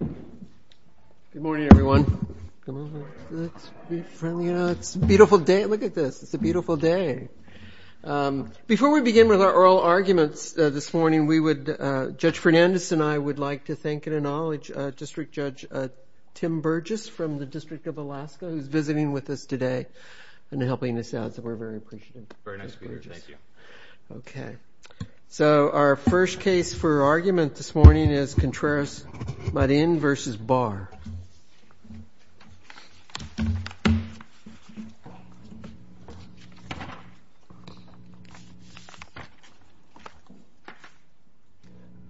Good morning everyone. It's a beautiful day. Look at this. It's a beautiful day. Before we begin with our oral arguments this morning, Judge Fernandes and I would like to thank and acknowledge District Judge Tim Burgess from the District of Alaska who's visiting with us today and helping us out. So we're very appreciative. Very nice to be here. Thank you. Okay. So our first case for argument this morning is Contreras-Marin v. Barr.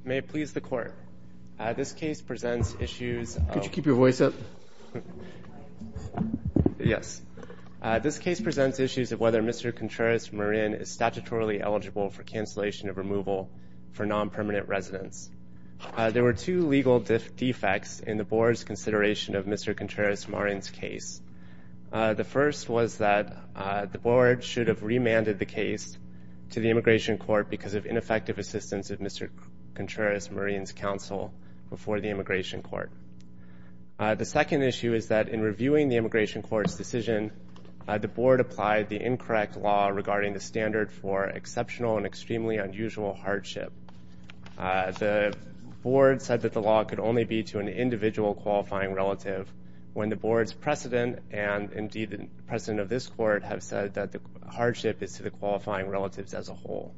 May it please the Court, this case presents issues of Could you keep your voice up? Yes. This case presents issues of whether Mr. Contreras-Marin is statutorily eligible for cancellation of removal for non-permanent residents. There were two legal defects in the Board's consideration of Mr. Contreras-Marin's case. The first was that the Board should have remanded the case to the Immigration Court because of ineffective assistance of Mr. Contreras-Marin's counsel before the Immigration Court. The second issue is that in reviewing the Immigration Court's decision, the Board applied the incorrect law regarding the standard for exceptional and extremely unusual hardship. The Board said that the law could only be to an individual qualifying relative when the Board's precedent and indeed the precedent of this Court have said that the hardship is to the qualifying relatives as a whole.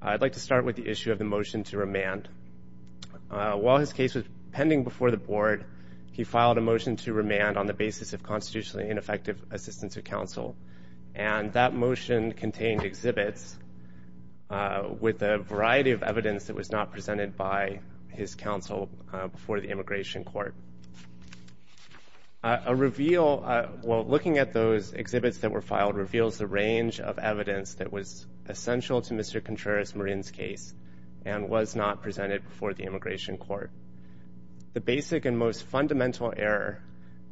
I'd like to start with the issue of the motion to remand. While his case was pending before the Board, he filed a motion to remand on the basis of constitutionally ineffective assistance of counsel, and that motion contained exhibits with a variety of evidence that was not presented by his counsel before the Immigration Court. Looking at those exhibits that were filed reveals the range of evidence that was essential to Mr. Contreras-Marin's case and was not presented before the Immigration Court. The basic and most fundamental error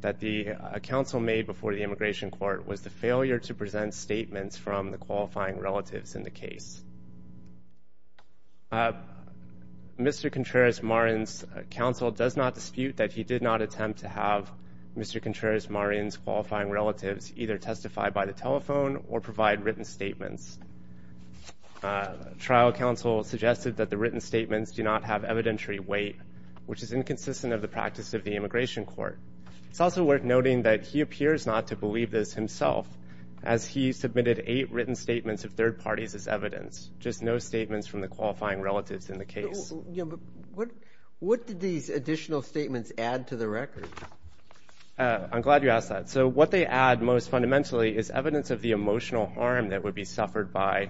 that the counsel made before the Immigration Court was the failure to present statements from the qualifying relatives in the case. Mr. Contreras-Marin's counsel does not dispute that he did not attempt to have Mr. Contreras-Marin's qualifying relatives either testify by the telephone or provide written statements. Trial counsel suggested that the written statements do not have evidentiary weight, which is inconsistent of the practice of the Immigration Court. It's also worth noting that he appears not to believe this himself, as he submitted eight written statements of third parties as evidence, just no statements from the qualifying relatives in the case. What did these additional statements add to the record? I'm glad you asked that. So what they add most fundamentally is evidence of the emotional harm that would be suffered by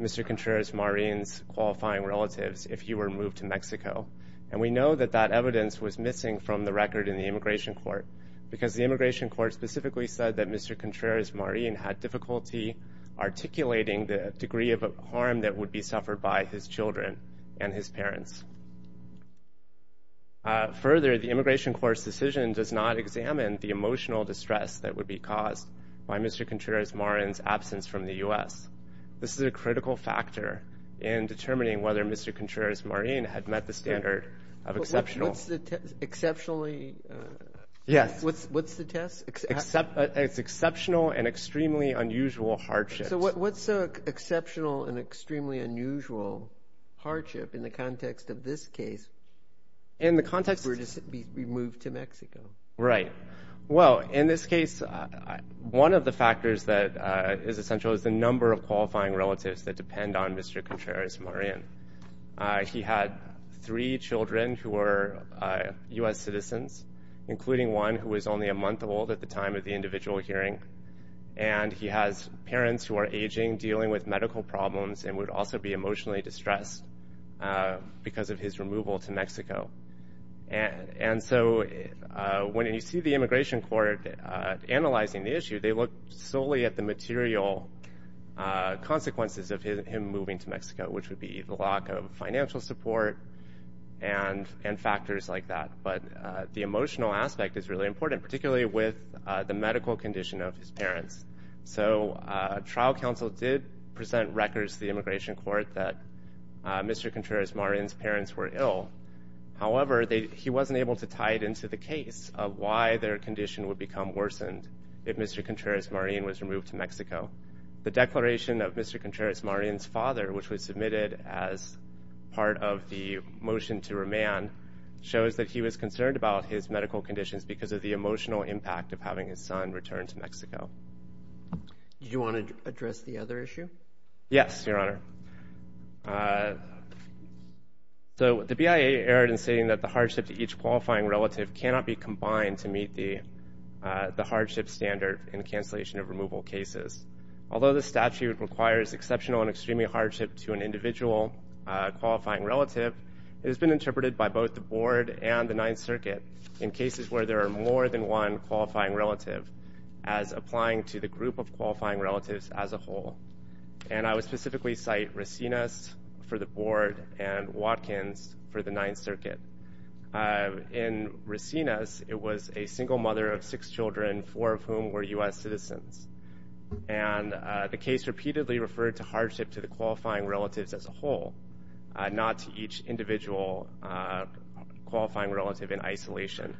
Mr. Contreras-Marin's qualifying relatives if he were moved to Mexico. And we know that that evidence was missing from the record in the Immigration Court because the Immigration Court specifically said that Mr. Contreras-Marin had difficulty articulating the degree of harm that would be suffered by his children and his parents. Further, the Immigration Court's decision does not examine the emotional distress that would be caused by Mr. Contreras-Marin's absence from the U.S. This is a critical factor in determining whether Mr. Contreras-Marin had met the standard of exceptional. What's the test? Yes. What's the test? It's exceptional and extremely unusual hardship. So what's exceptional and extremely unusual hardship in the context of this case if he were to be moved to Mexico? Right. Well, in this case, one of the factors that is essential is the number of qualifying relatives that depend on Mr. Contreras-Marin. He had three children who were U.S. citizens, including one who was only a month old at the time of the individual hearing. And he has parents who are aging, dealing with medical problems, and would also be emotionally distressed because of his removal to Mexico. And so when you see the Immigration Court analyzing the issue, they look solely at the material consequences of him moving to Mexico, which would be the lack of financial support and factors like that. But the emotional aspect is really important, particularly with the medical condition of his parents. So trial counsel did present records to the Immigration Court that Mr. Contreras-Marin's parents were ill. However, he wasn't able to tie it into the case of why their condition would become worsened if Mr. Contreras-Marin was removed to Mexico. The declaration of Mr. Contreras-Marin's father, which was submitted as part of the motion to remand, shows that he was concerned about his medical conditions because of the emotional impact of having his son returned to Mexico. Do you want to address the other issue? Yes, Your Honor. So the BIA erred in saying that the hardship to each qualifying relative cannot be combined to meet the hardship standard in cancellation of removal cases. Although the statute requires exceptional and extreme hardship to an individual qualifying relative, it has been interpreted by both the Board and the Ninth Circuit in cases where there are more than one qualifying relative as applying to the group of qualifying relatives as a whole. And I would specifically cite Racines for the Board and Watkins for the Ninth Circuit. In Racines, it was a single mother of six children, four of whom were U.S. citizens. And the case repeatedly referred to hardship to the qualifying relatives as a whole, not to each individual qualifying relative in isolation.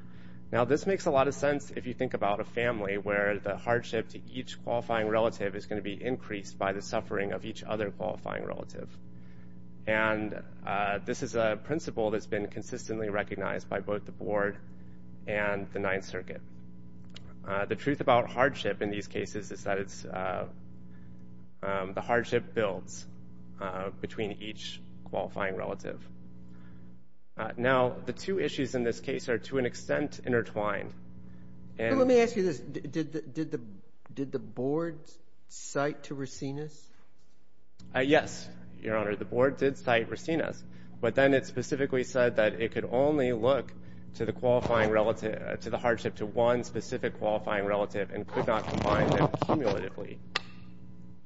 Now, this makes a lot of sense if you think about a family where the hardship to each qualifying relative is going to be increased by the suffering of each other qualifying relative. And this is a principle that's been consistently recognized by both the Board and the Ninth Circuit. The truth about hardship in these cases is that the hardship builds between each qualifying relative. Now, the two issues in this case are to an extent intertwined. Let me ask you this. Did the Board cite to Racines? Yes, Your Honor. The Board did cite Racines. But then it specifically said that it could only look to the qualifying relative, to the hardship to one specific qualifying relative and could not combine them cumulatively.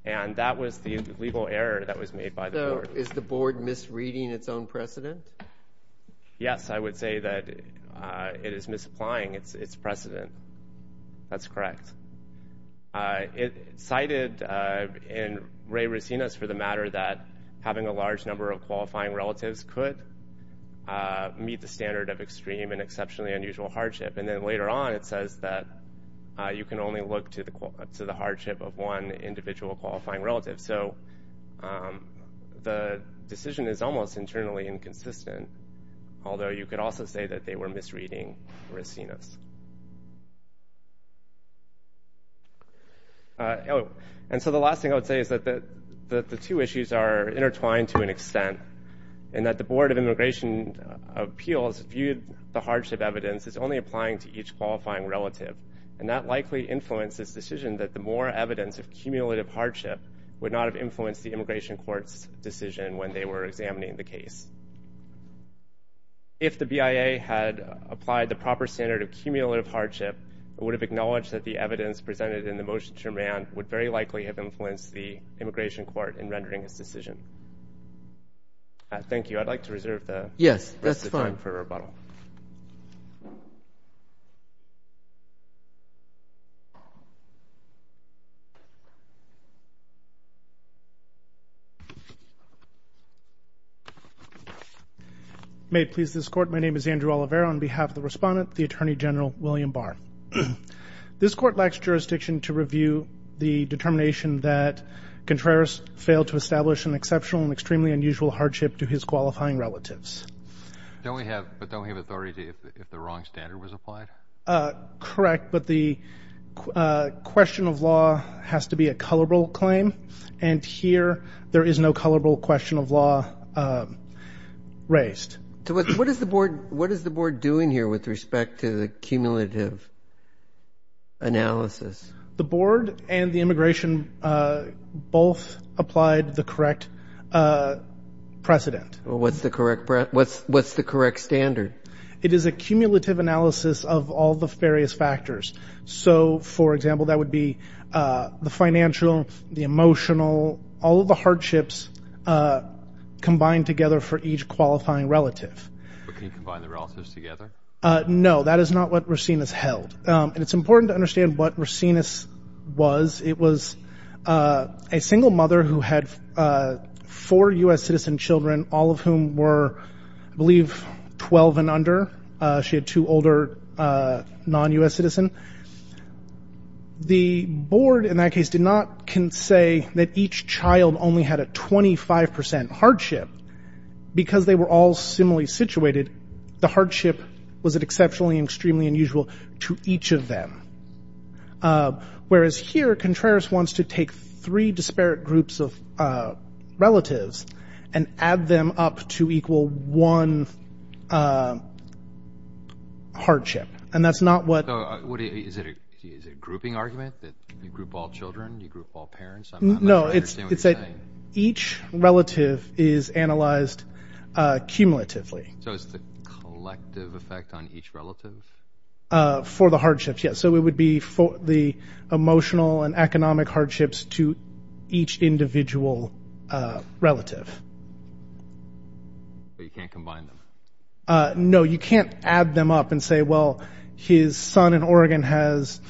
And that was the legal error that was made by the Board. So is the Board misreading its own precedent? Yes, I would say that it is misapplying its precedent. That's correct. It cited in Ray Racines for the matter that having a large number of qualifying relatives could meet the standard of extreme and exceptionally unusual hardship. And then later on it says that you can only look to the hardship of one individual qualifying relative. So the decision is almost internally inconsistent, although you could also say that they were misreading Racines. And so the last thing I would say is that the two issues are intertwined to an extent and that the Board of Immigration Appeals viewed the hardship evidence as only applying to each qualifying relative. And that likely influenced this decision that the more evidence of cumulative hardship would not have influenced the Immigration Court's decision when they were examining the case. If the BIA had applied the proper standard of cumulative hardship, it would have acknowledged that the evidence presented in the motion to amend would very likely have influenced the Immigration Court in rendering its decision. Thank you. I'd like to reserve the rest of the time for rebuttal. Yes, that's fine. May it please this Court, my name is Andrew Oliveira. On behalf of the Respondent, the Attorney General, William Barr. This Court lacks jurisdiction to review the determination that Contreras failed to establish an exceptional and extremely unusual hardship to his qualifying relatives. But don't we have authority if the wrong standard was applied? Correct, but the question of law has to be a colorable claim, and here there is no colorable question of law raised. What is the Board doing here with respect to the cumulative analysis? The Board and the Immigration both applied the correct precedent. What's the correct standard? It is a cumulative analysis of all the various factors. So, for example, that would be the financial, the emotional, all of the hardships combined together for each qualifying relative. But can you combine the relatives together? No, that is not what Racines held. And it's important to understand what Racines was. It was a single mother who had four U.S. citizen children, all of whom were, I believe, 12 and under. She had two older non-U.S. citizens. The Board, in that case, did not say that each child only had a 25 percent hardship. Because they were all similarly situated, the hardship was an exceptionally and extremely unusual to each of them. Whereas here, Contreras wants to take three disparate groups of relatives and add them up to equal one hardship. So is it a grouping argument that you group all children, you group all parents? I'm not sure I understand what you're saying. No, it's that each relative is analyzed cumulatively. So it's the collective effect on each relative? For the hardships, yes. So it would be for the emotional and economic hardships to each individual relative. But you can't combine them? No, you can't add them up and say, well, his son in Oregon has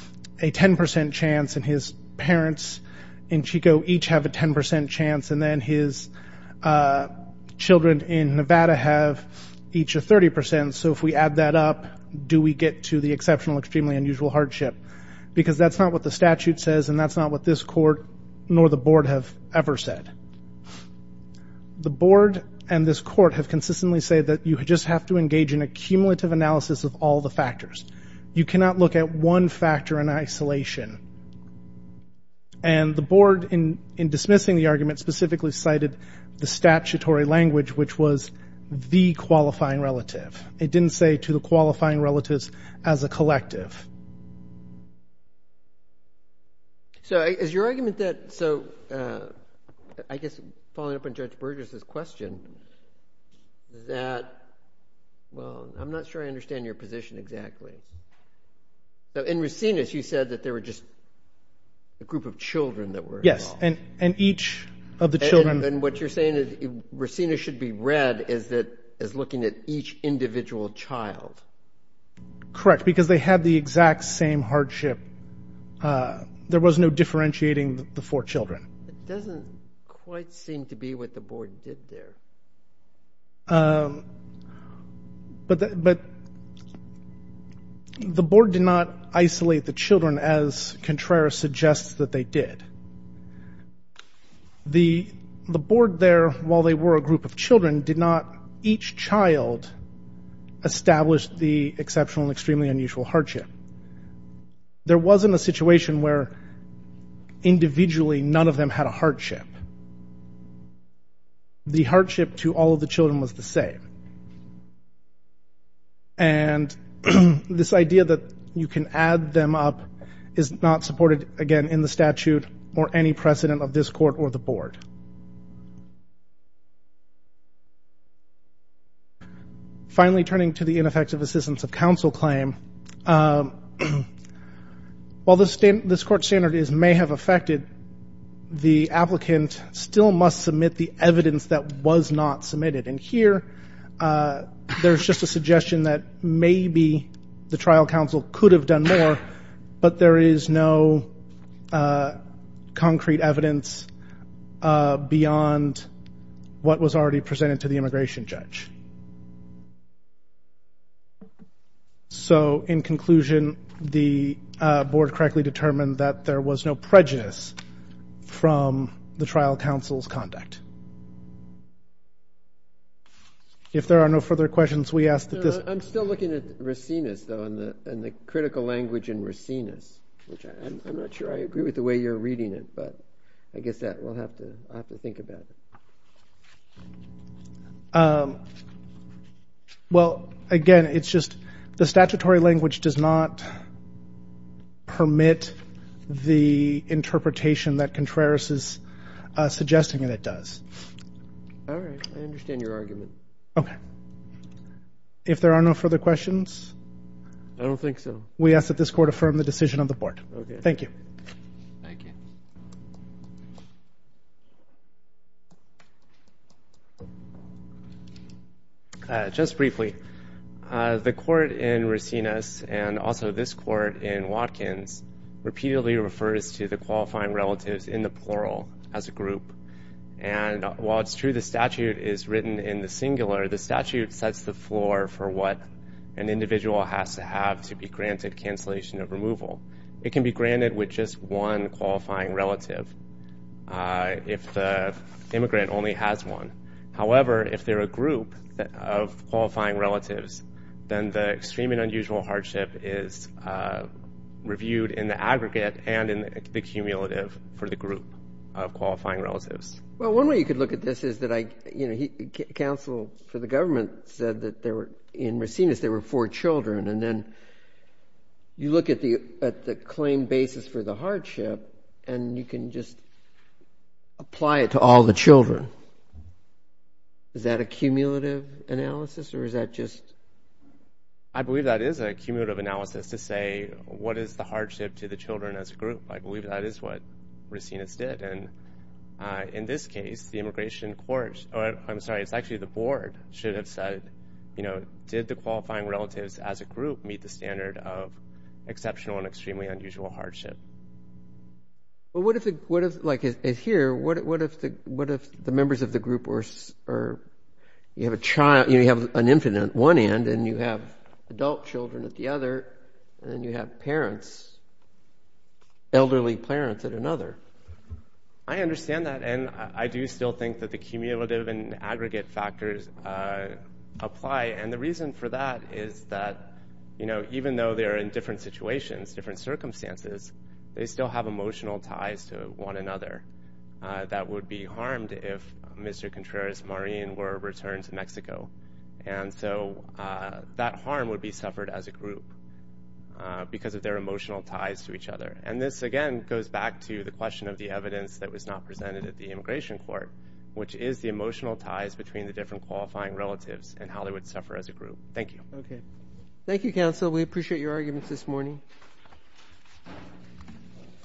a 10 percent chance and his parents in Chico each have a 10 percent chance and then his children in Nevada have each a 30 percent. So if we add that up, do we get to the exceptional, extremely unusual hardship? Because that's not what the statute says and that's not what this Court nor the Board have ever said. The Board and this Court have consistently said that you just have to engage in a cumulative analysis of all the factors. You cannot look at one factor in isolation. And the Board, in dismissing the argument, specifically cited the statutory language, which was the qualifying relative. It didn't say to the qualifying relatives as a collective. So is your argument that, so I guess following up on Judge Burgess' question, that, well, I'm not sure I understand your position exactly. In Racinus, you said that there were just a group of children that were involved. Yes, and each of the children. And what you're saying is Racinus should be read as looking at each individual child. Correct, because they had the exact same hardship. There was no differentiating the four children. It doesn't quite seem to be what the Board did there. But the Board did not isolate the children as Contreras suggests that they did. The Board there, while they were a group of children, did not each child establish the exceptional and extremely unusual hardship. There wasn't a situation where individually none of them had a hardship. The hardship to all of the children was the same. And this idea that you can add them up is not supported, again, in the statute or any precedent of this Court or the Board. Finally, turning to the ineffective assistance of counsel claim, while this Court standard may have affected, the applicant still must submit the evidence that was not submitted. And here there's just a suggestion that maybe the trial counsel could have done more, but there is no concrete evidence beyond what was already presented to the immigration judge. So in conclusion, the Board correctly determined that there was no prejudice from the trial counsel's conduct. If there are no further questions, we ask that this… I'm still looking at Racinus, though, and the critical language in Racinus, which I'm not sure I agree with the way you're reading it, but I guess that we'll have to think about. Well, again, it's just the statutory language does not permit the interpretation that Contreras is suggesting that it does. All right. I understand your argument. Okay. If there are no further questions… I don't think so. …we ask that this Court affirm the decision of the Board. Okay. Thank you. Thank you. Just briefly, the Court in Racinus and also this Court in Watkins repeatedly refers to the qualifying relatives in the plural as a group. And while it's true the statute is written in the singular, the statute sets the floor for what an individual has to have to be granted cancellation of removal. It can be granted with just one qualifying relative if the immigrant only has one. However, if they're a group of qualifying relatives, the cumulative for the group of qualifying relatives. Well, one way you could look at this is that counsel for the government said that in Racinus there were four children, and then you look at the claim basis for the hardship and you can just apply it to all the children. Is that a cumulative analysis or is that just… I believe that is a cumulative analysis to say what is the hardship to the children as a group. I believe that is what Racinus did. And in this case, the immigration court, I'm sorry, it's actually the Board, should have said, you know, did the qualifying relatives as a group meet the standard of exceptional and extremely unusual hardship? Well, what if, like here, what if the members of the group were, you have an infant on one end and you have adult children at the other and you have parents, elderly parents at another? I understand that and I do still think that the cumulative and aggregate factors apply. And the reason for that is that, you know, even though they're in different situations, different circumstances, they still have emotional ties to one another that would be harmed if Mr. Contreras-Marin were returned to Mexico. And so that harm would be suffered as a group because of their emotional ties to each other. And this, again, goes back to the question of the evidence that was not presented at the immigration court, which is the emotional ties between the different qualifying relatives and how they would suffer as a group. Thank you. Thank you, counsel. We appreciate your arguments this morning.